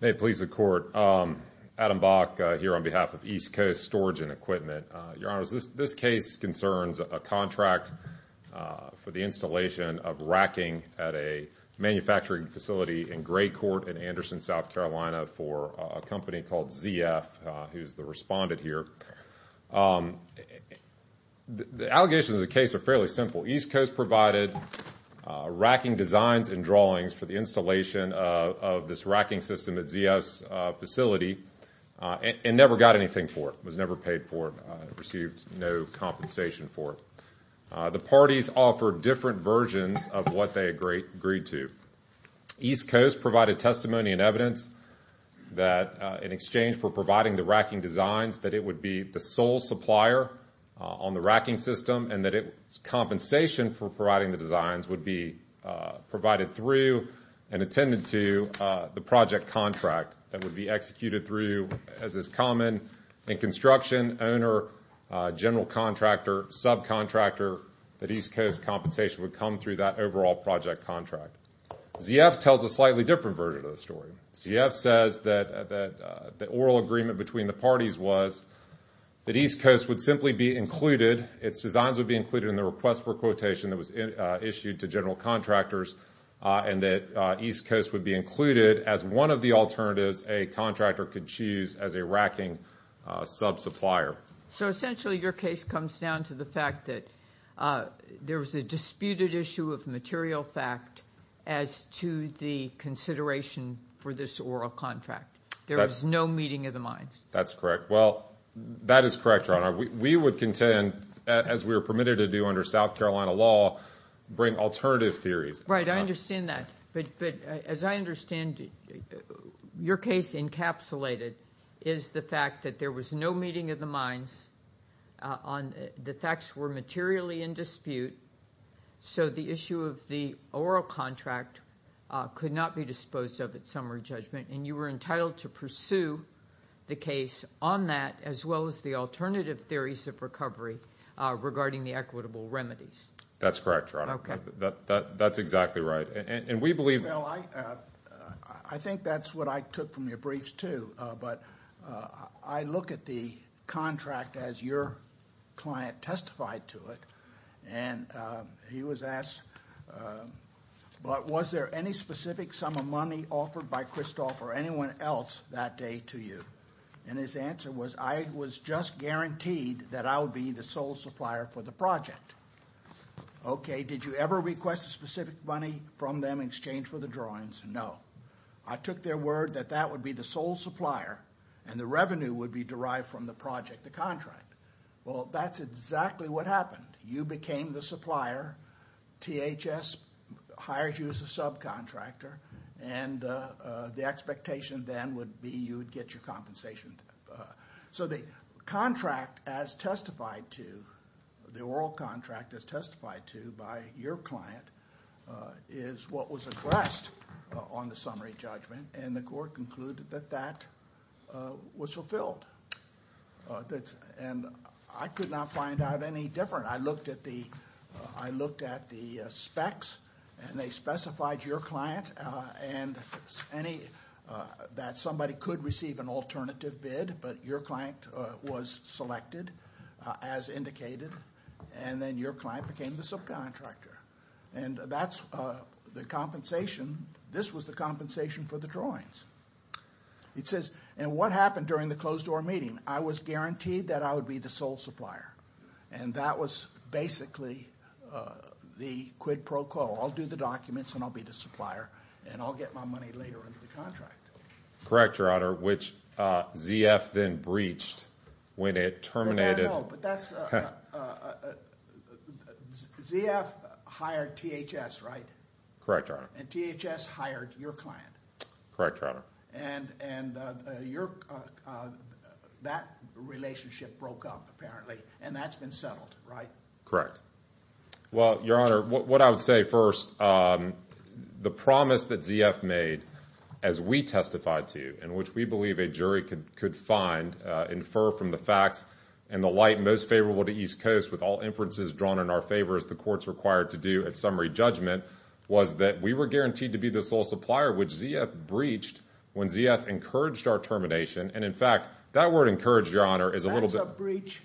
May it please the Court, Adam Bach here on behalf of East Coast Storage and Equipment. Your Honors, this case concerns a contract for the installation of racking at a manufacturing facility in Gray Court in Anderson, South Carolina for a company called ZF, who's the respondent here. The allegations of the case are fairly simple. East Coast provided racking designs and drawings for the installation of this racking system at ZF's facility and never got anything for it, was never paid for it, received no compensation for it. The parties offered different versions of what they agreed to. East Coast provided testimony and evidence that in exchange for providing the racking designs would be provided through and attended to the project contract that would be executed through, as is common in construction, owner, general contractor, subcontractor, that East Coast compensation would come through that overall project contract. ZF tells a slightly different version of the story. ZF says that the oral agreement between the parties was that East Coast would simply be included, its designs would be included in the request for quotation that was issued to general contractors, and that East Coast would be included as one of the alternatives a contractor could choose as a racking subsupplier. So essentially your case comes down to the fact that there was a disputed issue of material fact as to the consideration for this oral contract. There was no meeting of the minds. That's correct. Well, that is correct, Your Honor. We would contend, as we are permitted to do under South Carolina law, bring alternative theories. Right. I understand that. But as I understand it, your case encapsulated is the fact that there was no meeting of the minds on the facts were materially in dispute, so the issue of the oral contract could not be disposed of at summary judgment, and you were entitled to pursue the case on that as well as the alternative theories of recovery regarding the equitable remedies. That's correct, Your Honor. Okay. That's exactly right. And we believe- Well, I think that's what I took from your briefs too, but I look at the contract as your client testified to it, and he was asked, but was there any specific sum of money offered by Kristoff or anyone else that day to you? And his answer was, I was just guaranteed that I would be the sole supplier for the project. Okay. Did you ever request a specific money from them in exchange for the drawings? No. I took their word that that would be the sole supplier, and the revenue would be derived from the project, the contract. Well, that's exactly what happened. You became the supplier, THS hires you as a subcontractor, and the expectation then would be you would get your compensation. So the contract as testified to, the oral contract as testified to by your client is what was addressed on the summary judgment, and the court concluded that that was fulfilled. And I could not find out any different. I looked at the specs, and they specified your client, and that somebody could receive an alternative bid, but your client was selected as indicated, and then your client became the subcontractor. And that's the compensation. This was the compensation for the drawings. It says, and what happened during the closed door meeting? I was guaranteed that I would be the sole supplier, and that was basically the quid pro quo. I'll do the documents, and I'll be the supplier, and I'll get my money later under the contract. Correct, Your Honor, which ZF then breached when it terminated- No, no, no, but that's, ZF hired THS, right? Correct, Your Honor. And THS hired your client? Correct, Your Honor. And that relationship broke up, apparently, and that's been settled, right? Well, Your Honor, what I would say first, the promise that ZF made, as we testified to you, and which we believe a jury could find, infer from the facts, and the light most favorable to East Coast, with all inferences drawn in our favor, as the court's required to do at summary judgment, was that we were guaranteed to be the sole supplier, which ZF breached when ZF encouraged our termination, and in fact, that word encouraged, Your Honor, is a little bit- That's a breach,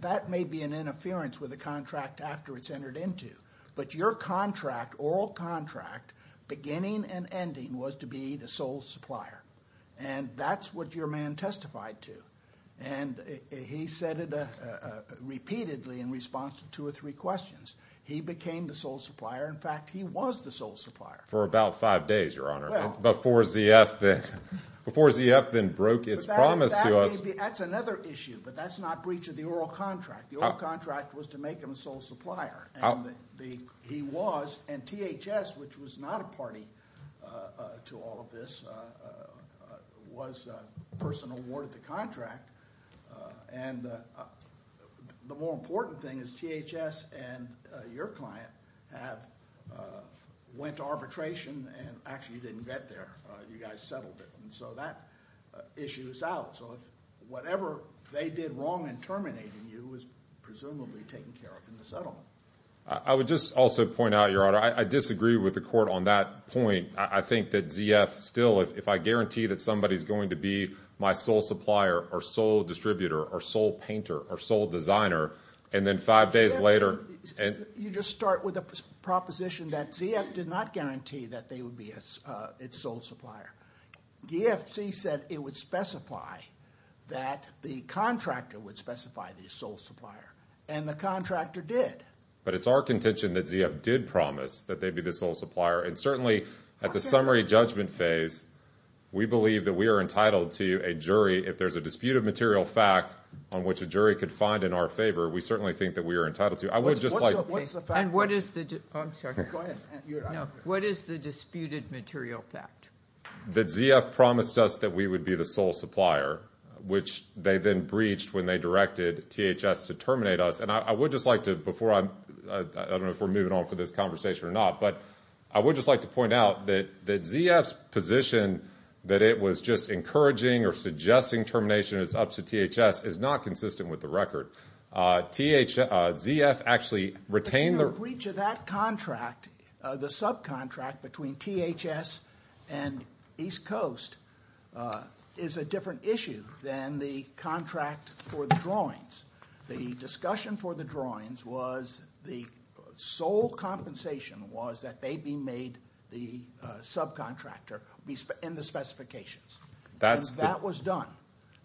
that may be an interference with the contract after it's entered into, but your contract, oral contract, beginning and ending, was to be the sole supplier, and that's what your man testified to, and he said it repeatedly in response to two or three questions. He became the sole supplier, in fact, he was the sole supplier. For about five days, Your Honor, before ZF then broke its promise to us. That's another issue, but that's not breach of the oral contract. The oral contract was to make him a sole supplier, and he was, and THS, which was not a party to all of this, was a person awarded the contract, and the more important thing is THS and your client went to arbitration and actually didn't get there, you guys settled it, and so that issue is out. So whatever they did wrong in terminating you was presumably taken care of in the settlement. I would just also point out, Your Honor, I disagree with the court on that point. I think that ZF still, if I guarantee that somebody's going to be my sole supplier or sole distributor or sole painter or sole designer, and then five days later- You just start with a proposition that ZF did not guarantee that they would be its sole supplier. DFC said it would specify that the contractor would specify the sole supplier, and the contractor did. But it's our contention that ZF did promise that they'd be the sole supplier, and certainly at the summary judgment phase, we believe that we are entitled to a jury, if there's a dispute of material fact on which a jury could find in our favor, we certainly think that we are entitled to. I would just like- What's the fact- And what is the- I'm sorry. Go ahead. No, what is the disputed material fact? That ZF promised us that we would be the sole supplier, which they then breached when they directed THS to terminate us. And I would just like to, before I'm, I don't know if we're moving on for this conversation or not, but I would just like to point out that ZF's position that it was just encouraging or suggesting termination, it's up to THS, is not consistent with the record. ZF actually retained- The breach of that contract, the subcontract between THS and East Coast, is a different issue than the contract for the drawings. The discussion for the drawings was the sole compensation was that they be made the subcontractor in the specifications. That's the- And that was done.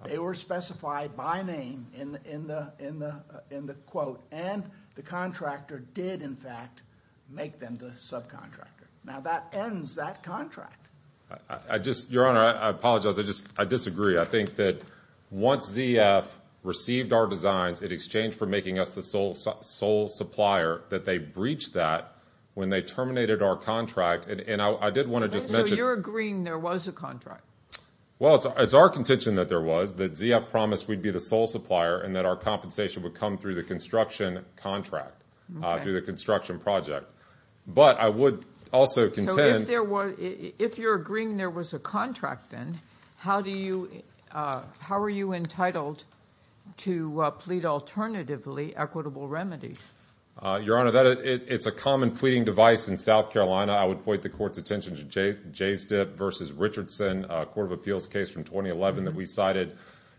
They were specified by name in the quote, and the contractor did, in fact, make them the subcontractor. Now, that ends that contract. I just, Your Honor, I apologize. I disagree. I think that once ZF received our designs, in exchange for making us the sole supplier, that they breached that when they terminated our contract. And I did want to just mention- If you're agreeing there was a contract- Well, it's our contention that there was, that ZF promised we'd be the sole supplier and that our compensation would come through the construction contract, through the construction project. But I would also contend- If you're agreeing there was a contract then, how are you entitled to plead alternatively equitable remedies? Your Honor, it's a common pleading device in South Carolina. I would point the court's attention to Jay Stipp v. Richardson, a court of appeals case from 2011 that we cited.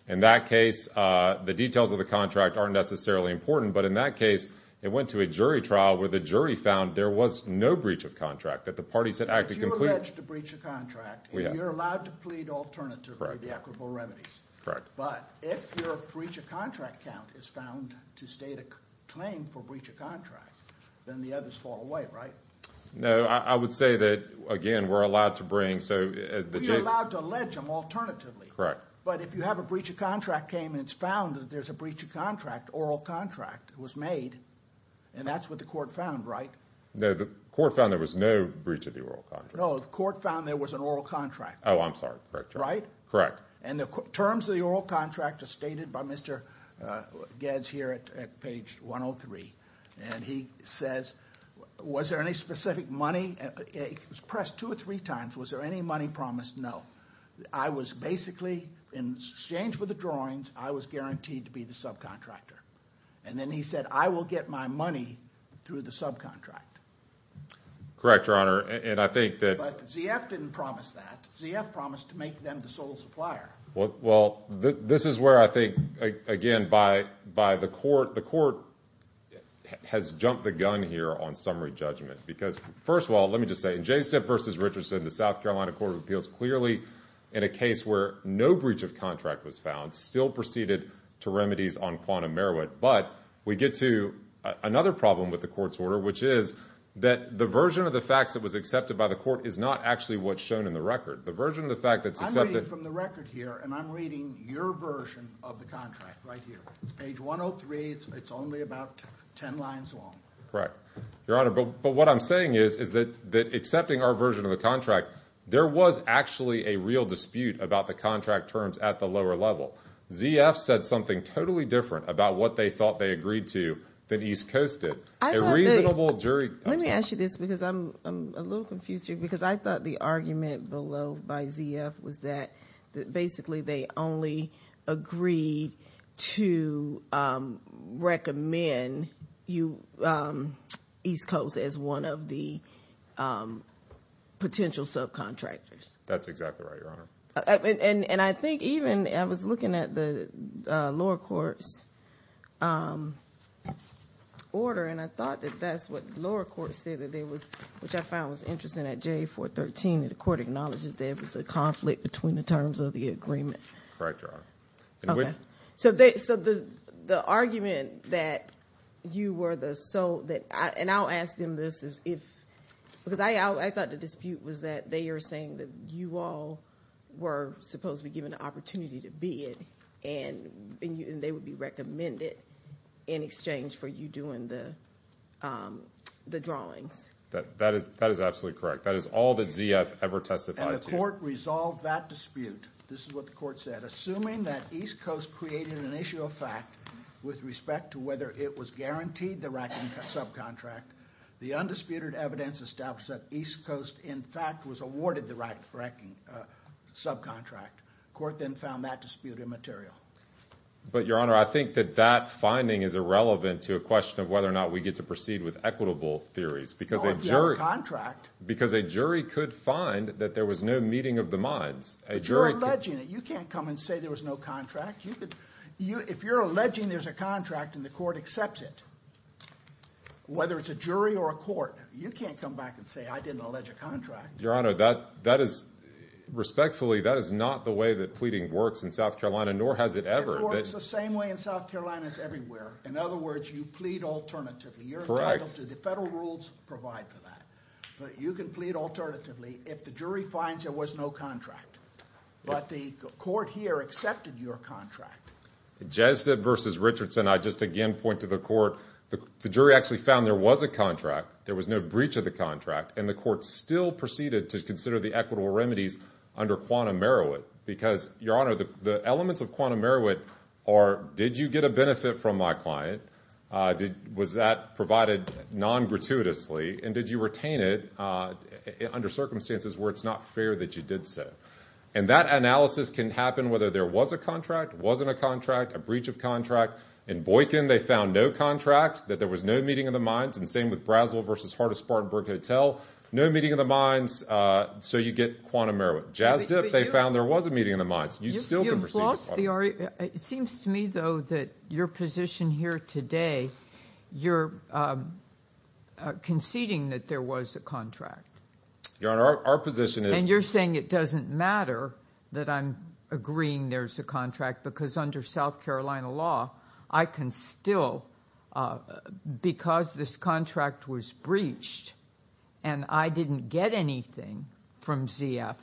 In that case, the details of the contract aren't necessarily important. But in that case, it went to a jury trial where the jury found there was no breach of contract. That the parties had acted completely- If you allege to breach a contract- We have. And you're allowed to plead alternatively- Correct. The equitable remedies. Correct. But, if your breach of contract count is found to state a claim for breach of contract, then the others fall away, right? No. I would say that, again, we're allowed to bring- We are allowed to allege them alternatively. Correct. But, if you have a breach of contract came and it's found that there's a breach of contract, oral contract was made, and that's what the court found, right? No. The court found there was no breach of the oral contract. No. The court found there was an oral contract. Oh, I'm sorry. Correct. Right? Correct. And the terms of the oral contract are stated by Mr. Gads here at page 103. And he says, was there any specific money? It was pressed two or three times. Was there any money promised? No. I was basically, in exchange for the drawings, I was guaranteed to be the subcontractor. And then he said, I will get my money through the subcontract. Correct, Your Honor. And I think that- But ZF didn't promise that. ZF promised to make them the sole supplier. Well, this is where I think, again, by the court, the court has jumped the gun here on summary judgment. Because first of all, let me just say, in JSTF v. Richardson, the South Carolina Court of Appeals clearly, in a case where no breach of contract was found, still proceeded to remedies on quantum merit. But we get to another problem with the court's order, which is that the version of the facts that was accepted by the court is not actually what's shown in the record. The version of the fact that's accepted- And I'm reading your version of the contract right here. It's page 103. It's only about 10 lines long. Your Honor, but what I'm saying is that accepting our version of the contract, there was actually a real dispute about the contract terms at the lower level. ZF said something totally different about what they thought they agreed to than East Coast did. A reasonable jury- Let me ask you this, because I'm a little confused here. Because I thought the argument below by ZF was that basically they only agreed to recommend East Coast as one of the potential subcontractors. That's exactly right, Your Honor. And I think even, I was looking at the lower court's order, and I thought that that's what the lower court said that there was, which I found was interesting at J413, that the court acknowledges there was a conflict between the terms of the agreement. Right, Your Honor. And we- Okay. So the argument that you were the sole, and I'll ask them this, because I thought the dispute was that they are saying that you all were supposed to be given the opportunity to bid, and they would be recommended in exchange for you doing the drawings. That is absolutely correct. That is all that ZF ever testified to. And the court resolved that dispute, this is what the court said, assuming that East Coast created an issue of fact with respect to whether it was guaranteed the right subcontract, the undisputed evidence established that East Coast, in fact, was awarded the right subcontract. The court then found that dispute immaterial. But Your Honor, I think that that finding is irrelevant to a question of whether or not we get to proceed with equitable theories. Because a jury- Because a jury could find that there was no meeting of the minds. A jury could- But you're alleging it. You can't come and say there was no contract. You could, if you're alleging there's a contract and the court accepts it, whether it's a jury or a court, you can't come back and say I didn't allege a contract. Your Honor, that is, respectfully, that is not the way that pleading works in South Carolina, nor has it ever. It works the same way in South Carolina as everywhere. In other words, you plead alternatively. Correct. You're entitled to the federal rules provide for that. But you can plead alternatively if the jury finds there was no contract. But the court here accepted your contract. Jesda versus Richardson, I just again point to the court. The jury actually found there was a contract. There was no breach of the contract. And the court still proceeded to consider the equitable remedies under quantum merit. Because your Honor, the elements of quantum merit are did you get a benefit from my client? Was that provided non-gratuitously? And did you retain it under circumstances where it's not fair that you did so? And that analysis can happen whether there was a contract, wasn't a contract, a breach of contract. In Boykin, they found no contract, that there was no meeting of the minds. And same with Brazel versus Hardis-Spartanburg Hotel. No meeting of the minds. So you get quantum merit. Jasda, they found there was a meeting of the minds. You still can proceed with quantum merit. It seems to me, though, that your position here today, you're conceding that there was a contract. Your Honor, our position is. And you're saying it doesn't matter that I'm agreeing there's a contract. Because under South Carolina law, I can still, because this contract was breached and I didn't get anything from ZF,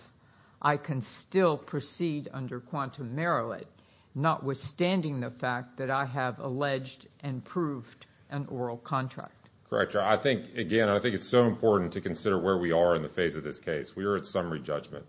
I can still proceed under quantum merit, notwithstanding the fact that I have alleged and proved an oral contract. Correct, Your Honor. I think, again, I think it's so important to consider where we are in the phase of this case. We are at summary judgment.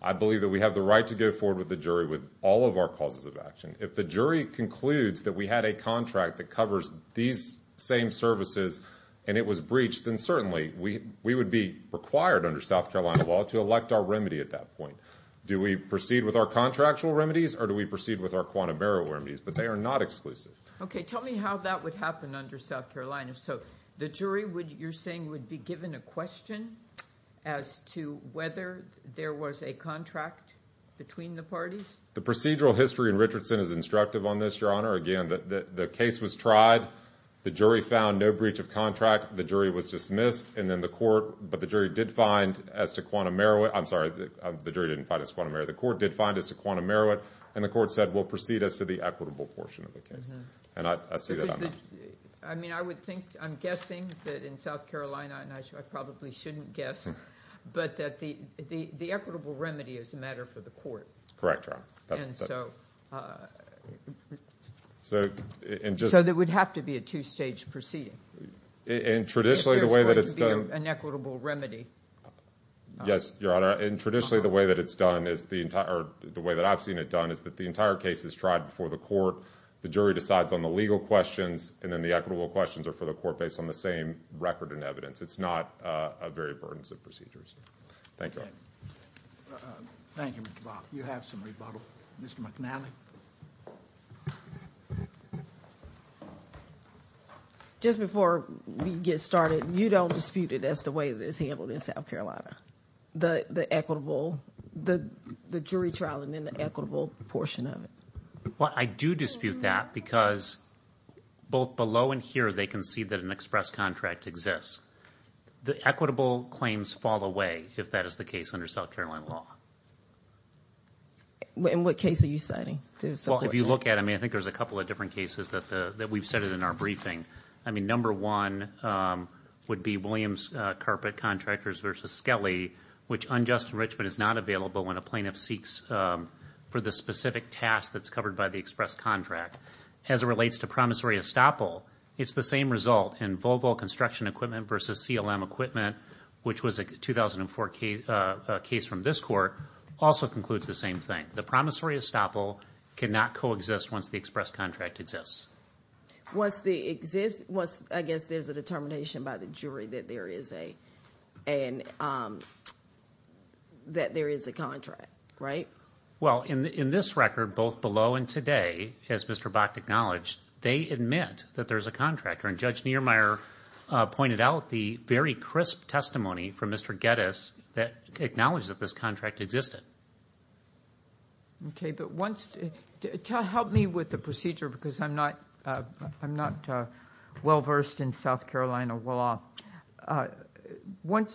I believe that we have the right to go forward with the jury with all of our causes of action. If the jury concludes that we had a contract that covers these same services and it was breached, then certainly we would be required under South Carolina law to elect our remedy at that point. Do we proceed with our contractual remedies or do we proceed with our quantum merit remedies? But they are not exclusive. Okay. Tell me how that would happen under South Carolina. So, the jury, you're saying, would be given a question as to whether there was a contract between the parties? The procedural history in Richardson is instructive on this, Your Honor. Again, the case was tried. The jury found no breach of contract. The jury was dismissed. And then the court, but the jury did find as to quantum merit, I'm sorry, the jury didn't find as quantum merit, the court did find as to quantum merit, and the court said we'll proceed as to the equitable portion of the case. And I see that. I mean, I would think, I'm guessing that in South Carolina, and I probably shouldn't guess, but that the equitable remedy is a matter for the court. Correct, Your Honor. And so, so, it would have to be a two-stage proceeding. And traditionally, the way that it's done, Yes, Your Honor, and traditionally, the way that it's done is the entire, or the way that I've seen it done is that the entire case is tried before the court. The jury decides on the legal questions, and then the equitable questions are for the court based on the same record and evidence. It's not a very burdensome procedure. Thank you. Thank you, Mr. Block. You have some rebuttal. Mr. McNally? Just before we get started, you don't dispute it as the way that it's handled in South Carolina, the equitable, the jury trial, and then the equitable portion of it? Well, I do dispute that because both below and here, they can see that an express contract exists. The equitable claims fall away if that is the case under South Carolina law. In what case are you citing? Well, if you look at it, I mean, I think there's a couple of different cases that we've cited in our briefing. I mean, number one would be Williams Carpet Contractors versus Skelly, which unjust enrichment is not available when a plaintiff seeks for the specific task that's covered by the express contract. As it relates to promissory estoppel, it's the same result in Volvo Construction Equipment versus CLM Equipment, which was a 2004 case from this court, also concludes the same thing. The promissory estoppel cannot coexist once the express contract exists. Once they exist, I guess there's a determination by the jury that there is a contract, right? Well, in this record, both below and today, as Mr. Bach acknowledged, they admit that there's a contract. And Judge Niermeyer pointed out the very crisp testimony from Mr. Geddes that acknowledged that this contract existed. Okay. But once, help me with the procedure because I'm not well versed in South Carolina law.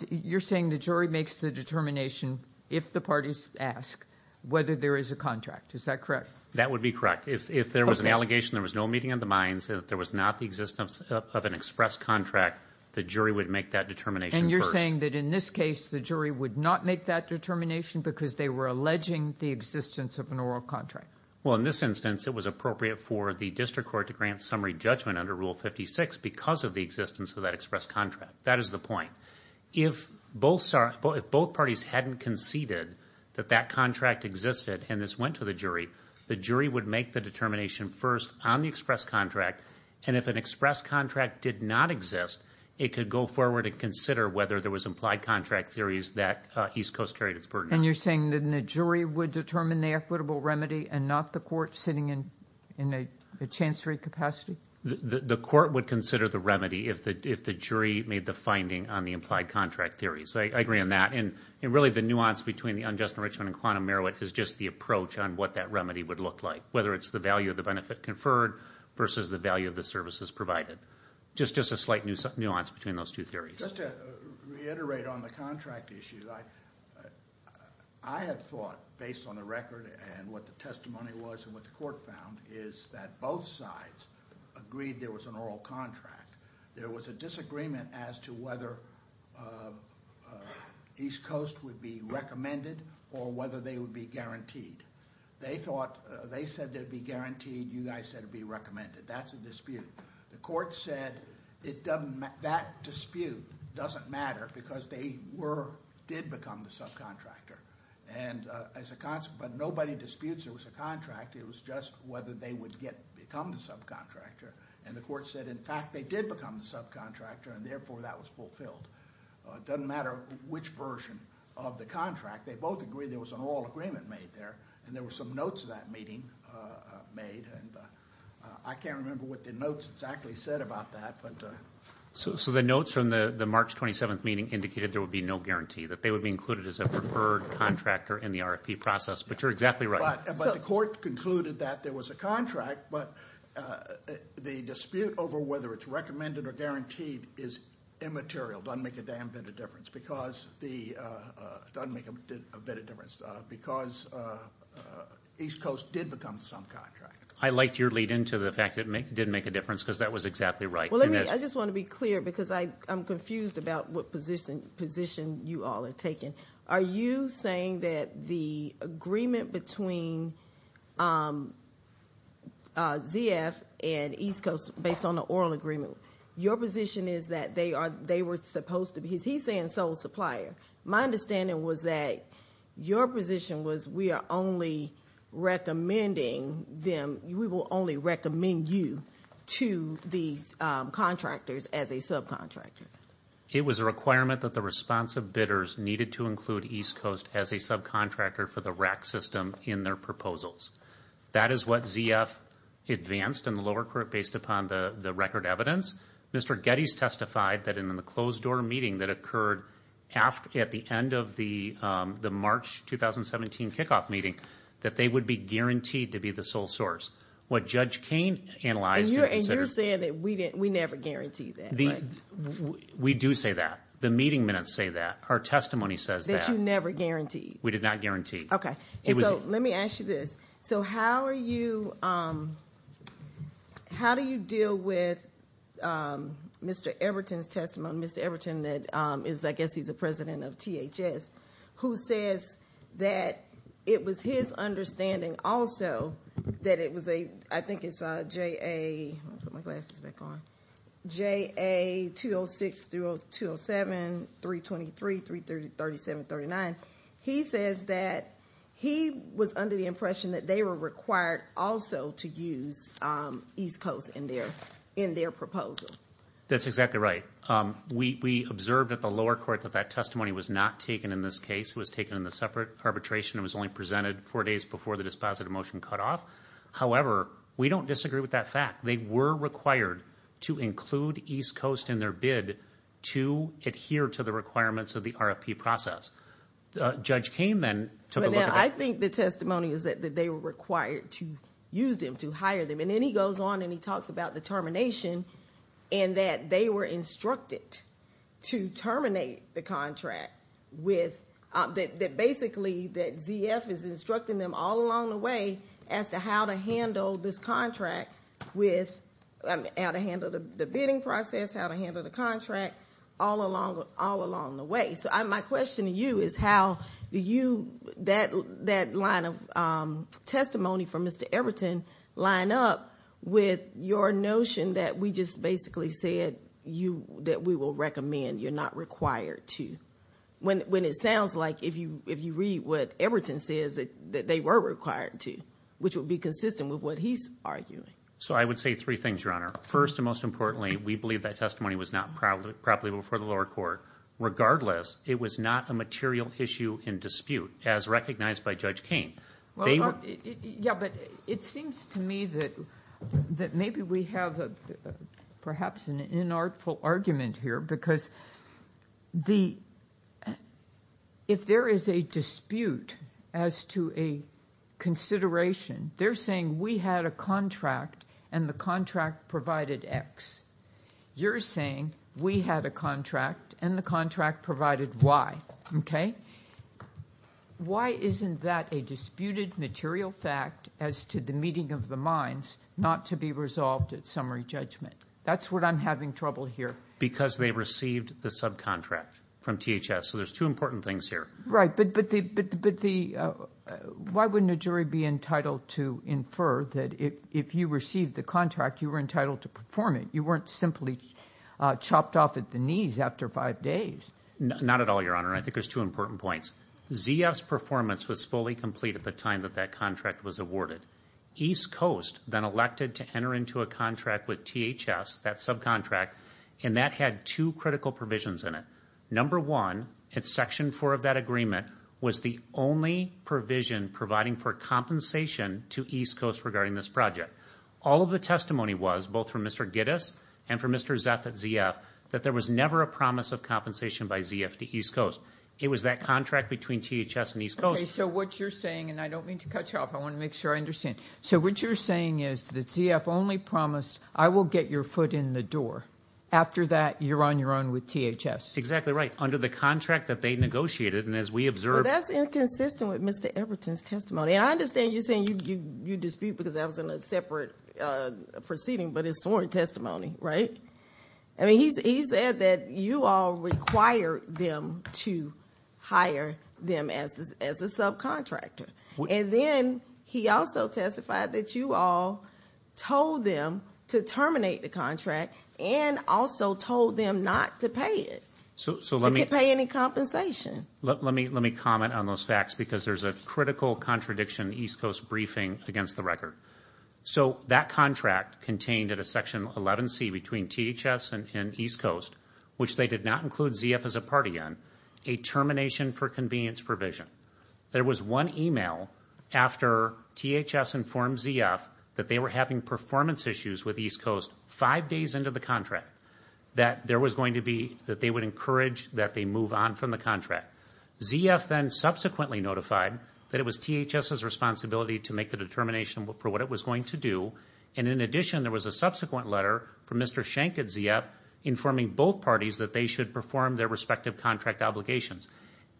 You're saying the jury makes the determination if the parties ask whether there is a contract. Is that correct? That would be correct. If there was an allegation, there was no meeting of the minds, and if there was not the existence of an express contract, the jury would make that determination first. And you're saying that in this case, the jury would not make that determination because they were alleging the existence of an oral contract. Well, in this instance, it was appropriate for the district court to grant summary judgment under Rule 56 because of the existence of that express contract. That is the point. If both parties hadn't conceded that that contract existed and this went to the jury, the jury would make the determination first on the express contract. And if an express contract did not exist, it could go forward and consider whether there was implied contract theories that East Coast carried its burden on. And you're saying that the jury would determine the equitable remedy and not the court sitting in a chancery capacity? The court would consider the remedy if the jury made the finding on the implied contract theory. So I agree on that. And really, the nuance between the unjust enrichment and quantum merit is just the approach on what that remedy would look like, whether it's the value of the benefit conferred versus the value of the services provided. Just a slight nuance between those two theories. Just to reiterate on the contract issue, I had thought, based on the record and what the testimony was and what the court found, is that both sides agreed there was an oral contract. There was a disagreement as to whether East Coast would be recommended or whether they would be guaranteed. They thought, they said they'd be guaranteed, you guys said it'd be recommended. That's a dispute. The court said that dispute doesn't matter because they did become the subcontractor. And as a consequence, nobody disputes there was a contract. It was just whether they would become the subcontractor. And the court said, in fact, they did become the subcontractor, and therefore that was It doesn't matter which version of the contract. They both agreed there was an oral agreement made there, and there were some notes of that meeting made. I can't remember what the notes exactly said about that. So the notes from the March 27th meeting indicated there would be no guarantee, that they would be included as a preferred contractor in the RFP process, but you're exactly right. But the court concluded that there was a contract, but the dispute over whether it's recommended or guaranteed is immaterial, doesn't make a damn bit of difference, because East Coast did become the subcontractor. I liked your lead-in to the fact that it didn't make a difference, because that was exactly right. Well, let me, I just want to be clear, because I'm confused about what position you all are taking. Are you saying that the agreement between ZF and East Coast, based on the oral agreement, your position is that they were supposed to be, he's saying sole supplier. My understanding was that your position was we are only recommending them, we will only recommend you to these contractors as a subcontractor. It was a requirement that the responsive bidders needed to include East Coast as a subcontractor for the RAC system in their proposals. That is what ZF advanced in the lower court based upon the record evidence. Mr. Getty's testified that in the closed door meeting that occurred at the end of the March 2017 kickoff meeting, that they would be guaranteed to be the sole source. What Judge Cain analyzed- And you're saying that we never guaranteed that, right? We do say that. The meeting minutes say that. Our testimony says that. That you never guaranteed. We did not guarantee. Okay. And so, let me ask you this. So how are you, how do you deal with Mr. Everton's testimony? Mr. Everton is, I guess he's the president of THS, who says that it was his understanding also that it was a, I think it's a JA, let me put my glasses back on. JA 206 through 207, 323, 337, 39. He says that he was under the impression that they were required also to use East Coast in their proposal. That's exactly right. We observed at the lower court that that testimony was not taken in this case. It was taken in the separate arbitration. It was only presented four days before the dispositive motion cut off. However, we don't disagree with that fact. They were required to include East Coast in their bid to adhere to the requirements of the RFP process. Judge Cain then took a look at that. But now, I think the testimony is that they were required to use them, to hire them. And then he goes on and he talks about the termination, and that they were instructed to terminate the contract with, that basically that ZF is instructing them all along the way as to how to handle this contract with, how to handle the bidding process, how to handle the contract all along the way. My question to you is how do you, that line of testimony from Mr. Everton, line up with your notion that we just basically said that we will recommend, you're not required to. When it sounds like if you read what Everton says that they were required to, which would be consistent with what he's arguing. So I would say three things, Your Honor. First and most importantly, we believe that testimony was not properly before the lower court. Regardless, it was not a material issue in dispute as recognized by Judge Cain. Yeah, but it seems to me that maybe we have perhaps an inartful argument here because if there is a dispute as to a consideration, they're saying we had a contract and the contract provided X. You're saying we had a contract and the contract provided Y. Why isn't that a disputed material fact as to the meeting of the minds not to be resolved at summary judgment? That's what I'm having trouble here. Because they received the subcontract from THS. So there's two important things here. Right, but why wouldn't a jury be entitled to infer that if you received the contract, you were entitled to perform it? You weren't simply chopped off at the knees after five days. Not at all, Your Honor. I think there's two important points. ZF's performance was fully complete at the time that that contract was awarded. East Coast then elected to enter into a contract with THS, that subcontract, and that had two critical provisions in it. Number one, it's section four of that agreement, was the only provision providing for compensation to East Coast regarding this project. All of the testimony was, both from Mr. Giddes and from Mr. Zeff at ZF, that there was never a promise of compensation by ZF to East Coast. It was that contract between THS and East Coast. So what you're saying, and I don't mean to cut you off, I want to make sure I understand. So what you're saying is that ZF only promised, I will get your foot in the door. After that, you're on your own with THS. Exactly right. Under the contract that they negotiated, and as we observed. Well, that's inconsistent with Mr. Everton's testimony. And I understand you're saying you dispute because that was in a separate proceeding, but it's sworn testimony, right? I mean, he said that you all required them to hire them as a subcontractor. And then he also testified that you all told them to terminate the contract and also told them not to pay it. So let me- To pay any compensation. Let me comment on those facts because there's a critical contradiction, East Coast briefing against the record. So that contract contained at a section 11C between THS and East Coast, which they did not include ZF as a party in, a termination for convenience provision. There was one email after THS informed ZF that they were having performance issues with East Coast five days into the contract that there was going to be, that they would encourage that they move on from the contract. ZF then subsequently notified that it was THS's responsibility to make the determination for what it was going to do. And in addition, there was a subsequent letter from Mr. Schenck at ZF informing both parties that they should perform their respective contract obligations.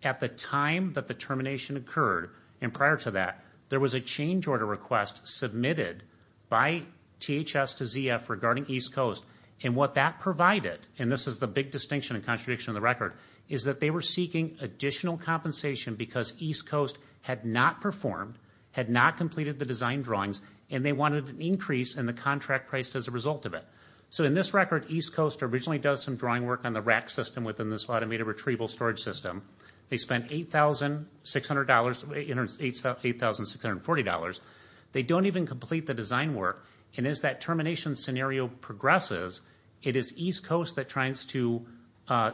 At the time that the termination occurred, and prior to that, there was a change order request submitted by THS to ZF regarding East Coast. And what that provided, and this is the big distinction and contradiction of the record, is that they were seeking additional compensation because East Coast had not performed, had not completed the design drawings, and they wanted an increase in the contract price as a result of it. So in this record, East Coast originally does some drawing work on the rack system within this automated retrieval storage system. They spent $8,600, $8,640. They don't even complete the design work. And as that termination scenario progresses, it is East Coast that tries to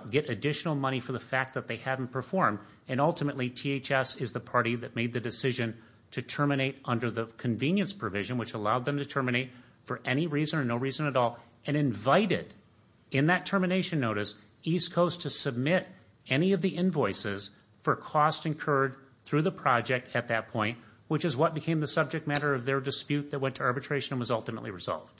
get additional money for the fact that they hadn't performed. And ultimately, THS is the party that made the decision to terminate under the convenience provision, which allowed them to terminate for any reason or no reason at all, and invited in that termination notice East Coast to submit any of the invoices for cost incurred through the project at that point, which is what became the subject matter of their dispute that went to arbitration and was ultimately resolved.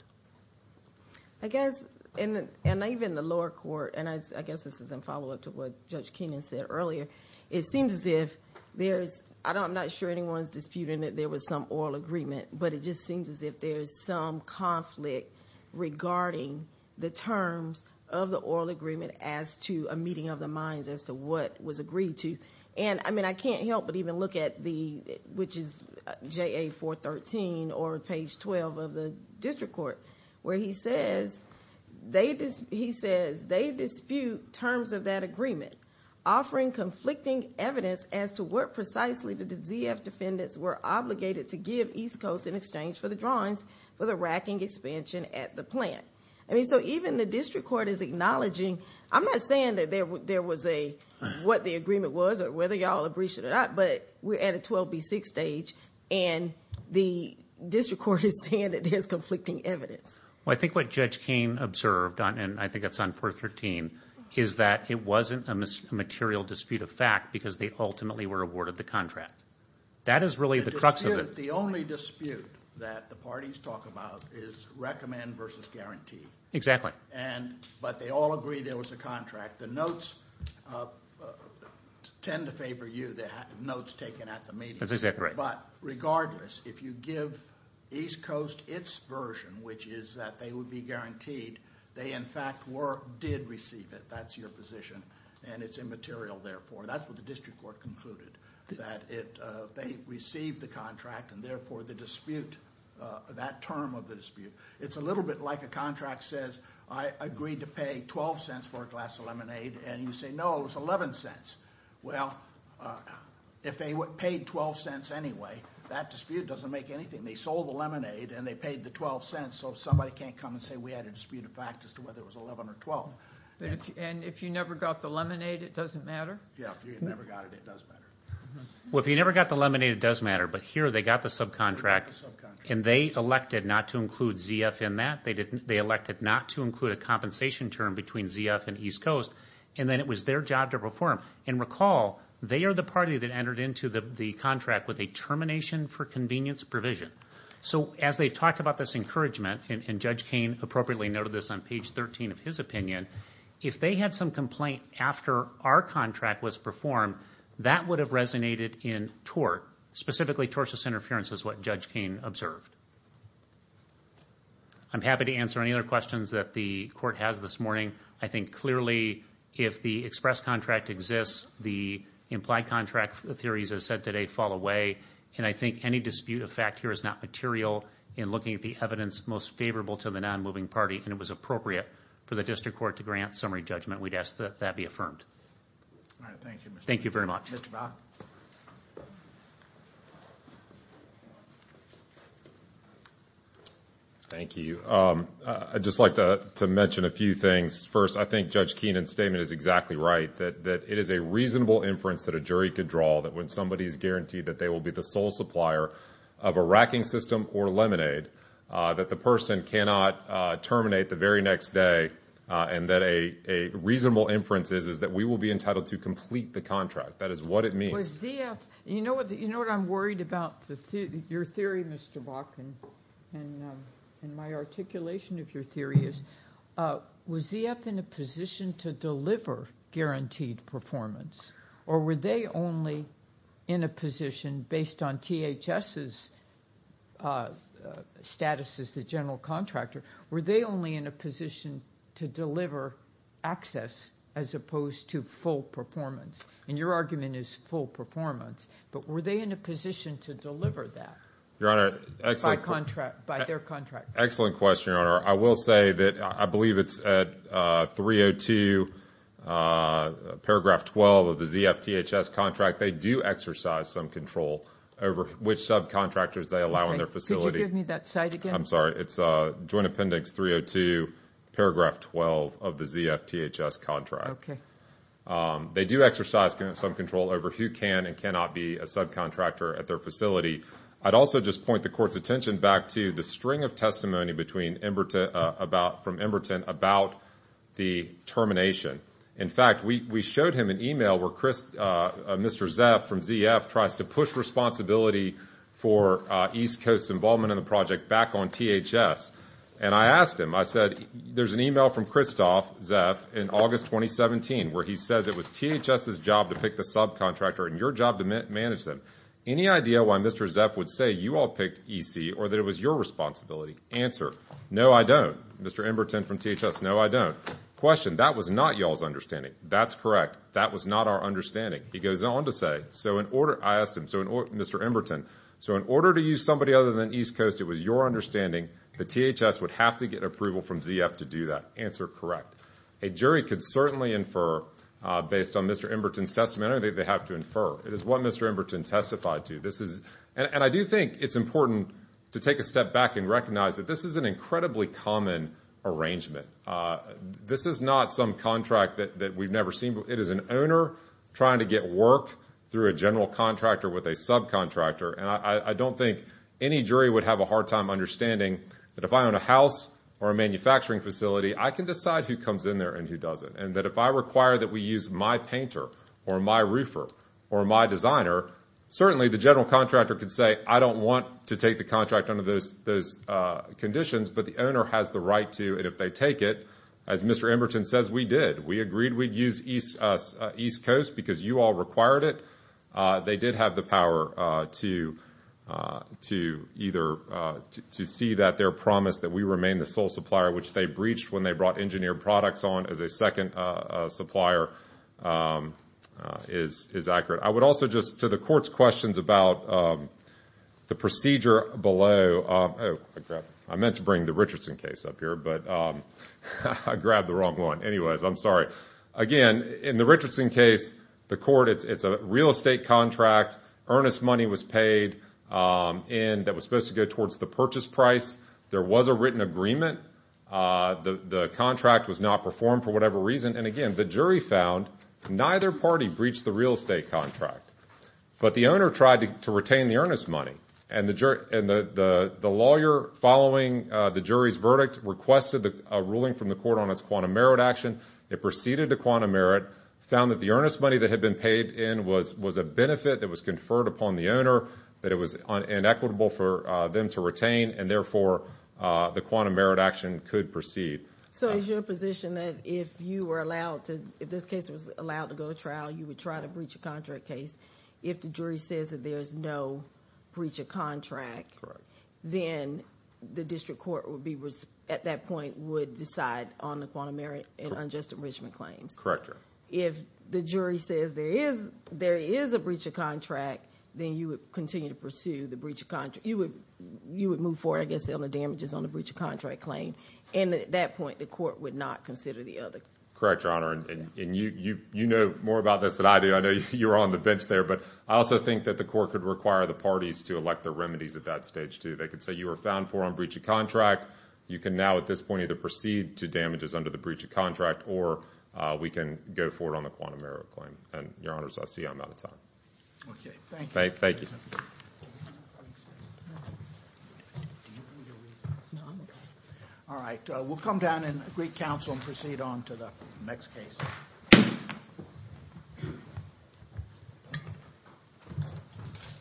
I guess, and even the lower court, and I guess this is in follow up to what Judge Kenan said earlier, it seems as if there's, I'm not sure anyone's disputing that there was some oral agreement, but it just seems as if there's some conflict regarding the terms of the oral agreement as to a meeting of the minds as to what was agreed to. And I mean, I can't help but even look at the, which is JA 413 or page 12 of the district court, where he says, they dispute terms of that agreement, offering conflicting evidence as to what precisely the ZF defendants were obligated to give East Coast in exchange for the drawings for the racking expansion at the plant. I mean, so even the district court is acknowledging, I'm not saying that there was a, what the agreement was, whether y'all have breached it or not, but we're at a 12B6 stage and the district court is saying that there's conflicting evidence. Well, I think what Judge Kane observed on, and I think it's on 413, is that it wasn't a material dispute of fact because they ultimately were awarded the contract. That is really the crux of it. The only dispute that the parties talk about is recommend versus guarantee. Exactly. And, but they all agree there was a contract. The notes tend to favor you, the notes taken at the meeting. That's exactly right. But regardless, if you give East Coast its version, which is that they would be guaranteed, they in fact were, did receive it. That's your position and it's immaterial therefore. That's what the district court concluded. That it, they received the contract and therefore the dispute, that term of the dispute, it's a little bit like a contract says, I agreed to pay 12 cents for a glass of lemonade and you say no, it was 11 cents. Well, if they paid 12 cents anyway, that dispute doesn't make anything. They sold the lemonade and they paid the 12 cents so somebody can't come and say we had a dispute of fact as to whether it was 11 or 12. And if you never got the lemonade, it doesn't matter? Yeah, if you never got it, it does matter. Well, if you never got the lemonade, it does matter. But here, they got the subcontract and they elected not to include ZF in that. They didn't, they elected not to include a compensation term between ZF and East Coast and then it was their job to perform. And recall, they are the party that entered into the contract with a termination for convenience provision. So as they've talked about this encouragement and Judge Kane appropriately noted this on page 13 of his opinion, if they had some complaint after our contract was performed, that would have resonated in tort. Specifically, tortious interference is what Judge Kane observed. I'm happy to answer any other questions that the court has this morning. I think clearly if the express contract exists, the implied contract theories as said today fall away. And I think any dispute of fact here is not material in looking at the evidence most favorable to the non-moving party and it was appropriate for the district court to grant summary judgment. We'd ask that that be affirmed. All right. Thank you. Thank you very much. Mr. Brown. Thank you. I'd just like to mention a few things. First, I think Judge Keenan's statement is exactly right. That it is a reasonable inference that a jury could draw that when somebody is guaranteed that they will be the sole supplier of a racking system or lemonade, that the person cannot terminate the very next day and that a reasonable inference is that we will be entitled to complete the contract. That is what it means. You know what I'm worried about? Your theory, Mr. Bach, and my articulation of your theory is, was ZF in a position to deliver guaranteed performance or were they only in a position based on THS's status as the general contractor, were they only in a position to deliver access as opposed to full performance? Your argument is full performance, but were they in a position to deliver that by their contract? Excellent question, Your Honor. I will say that I believe it's at 302 paragraph 12 of the ZF THS contract. They do exercise some control over which subcontractors they allow in their facility. Could you give me that site again? I'm sorry. It's Joint Appendix 302, paragraph 12 of the ZF THS contract. Okay. They do exercise some control over who can and cannot be a subcontractor at their facility. I'd also just point the Court's attention back to the string of testimony from Emberton about the termination. In fact, we showed him an email where Mr. Zeff from ZF tries to push responsibility for East Coast's involvement in the project back on THS, and I asked him. There's an email from Christoph Zeff in August 2017 where he says it was THS's job to pick the subcontractor and your job to manage them. Any idea why Mr. Zeff would say you all picked EC or that it was your responsibility? Answer, no, I don't. Mr. Emberton from THS, no, I don't. Question, that was not y'all's understanding. That's correct. That was not our understanding. He goes on to say, I asked him, Mr. Emberton, so in order to use somebody other than East from ZF to do that? Answer, correct. A jury could certainly infer based on Mr. Emberton's testimony, they have to infer. It is what Mr. Emberton testified to. This is, and I do think it's important to take a step back and recognize that this is an incredibly common arrangement. This is not some contract that we've never seen. It is an owner trying to get work through a general contractor with a subcontractor, and I don't think any jury would have a hard time understanding that if I own a house or a manufacturing facility, I can decide who comes in there and who doesn't. And that if I require that we use my painter or my roofer or my designer, certainly the general contractor could say, I don't want to take the contract under those conditions, but the owner has the right to. And if they take it, as Mr. Emberton says, we did. We agreed we'd use East Coast because you all required it. They did have the power to either see that their promise that we remain the sole supplier, which they breached when they brought engineered products on as a second supplier, is accurate. I would also just, to the Court's questions about the procedure below, I meant to bring the Richardson case up here, but I grabbed the wrong one. Anyways, I'm sorry. Again, in the Richardson case, the Court, it's a real estate contract, earnest money was paid that was supposed to go towards the purchase price. There was a written agreement. The contract was not performed for whatever reason. And again, the jury found neither party breached the real estate contract. But the owner tried to retain the earnest money, and the lawyer following the jury's verdict requested a ruling from the Court on its quantum merit action. It preceded the quantum merit, found that the earnest money that had been paid in was a benefit that was conferred upon the owner, that it was inequitable for them to retain, and therefore, the quantum merit action could proceed. So is your position that if you were allowed to, if this case was allowed to go to trial, you would try to breach a contract case? If the jury says that there is no breach of contract, then the district court would be, Correct, Your Honor. If the jury says there is a breach of contract, then you would continue to pursue the breach of contract. You would move forward, I guess, on the damages on the breach of contract claim. And at that point, the Court would not consider the other. Correct, Your Honor. And you know more about this than I do. I know you're on the bench there. But I also think that the Court could require the parties to elect their remedies at that stage, too. They could say you were found for a breach of contract. You can now, at this point, either proceed to damages under the breach of contract, or we can go forward on the quantum merit claim. And, Your Honors, I see I'm out of time. Okay, thank you. Thank you. All right, we'll come down and agree counsel and proceed on to the next case.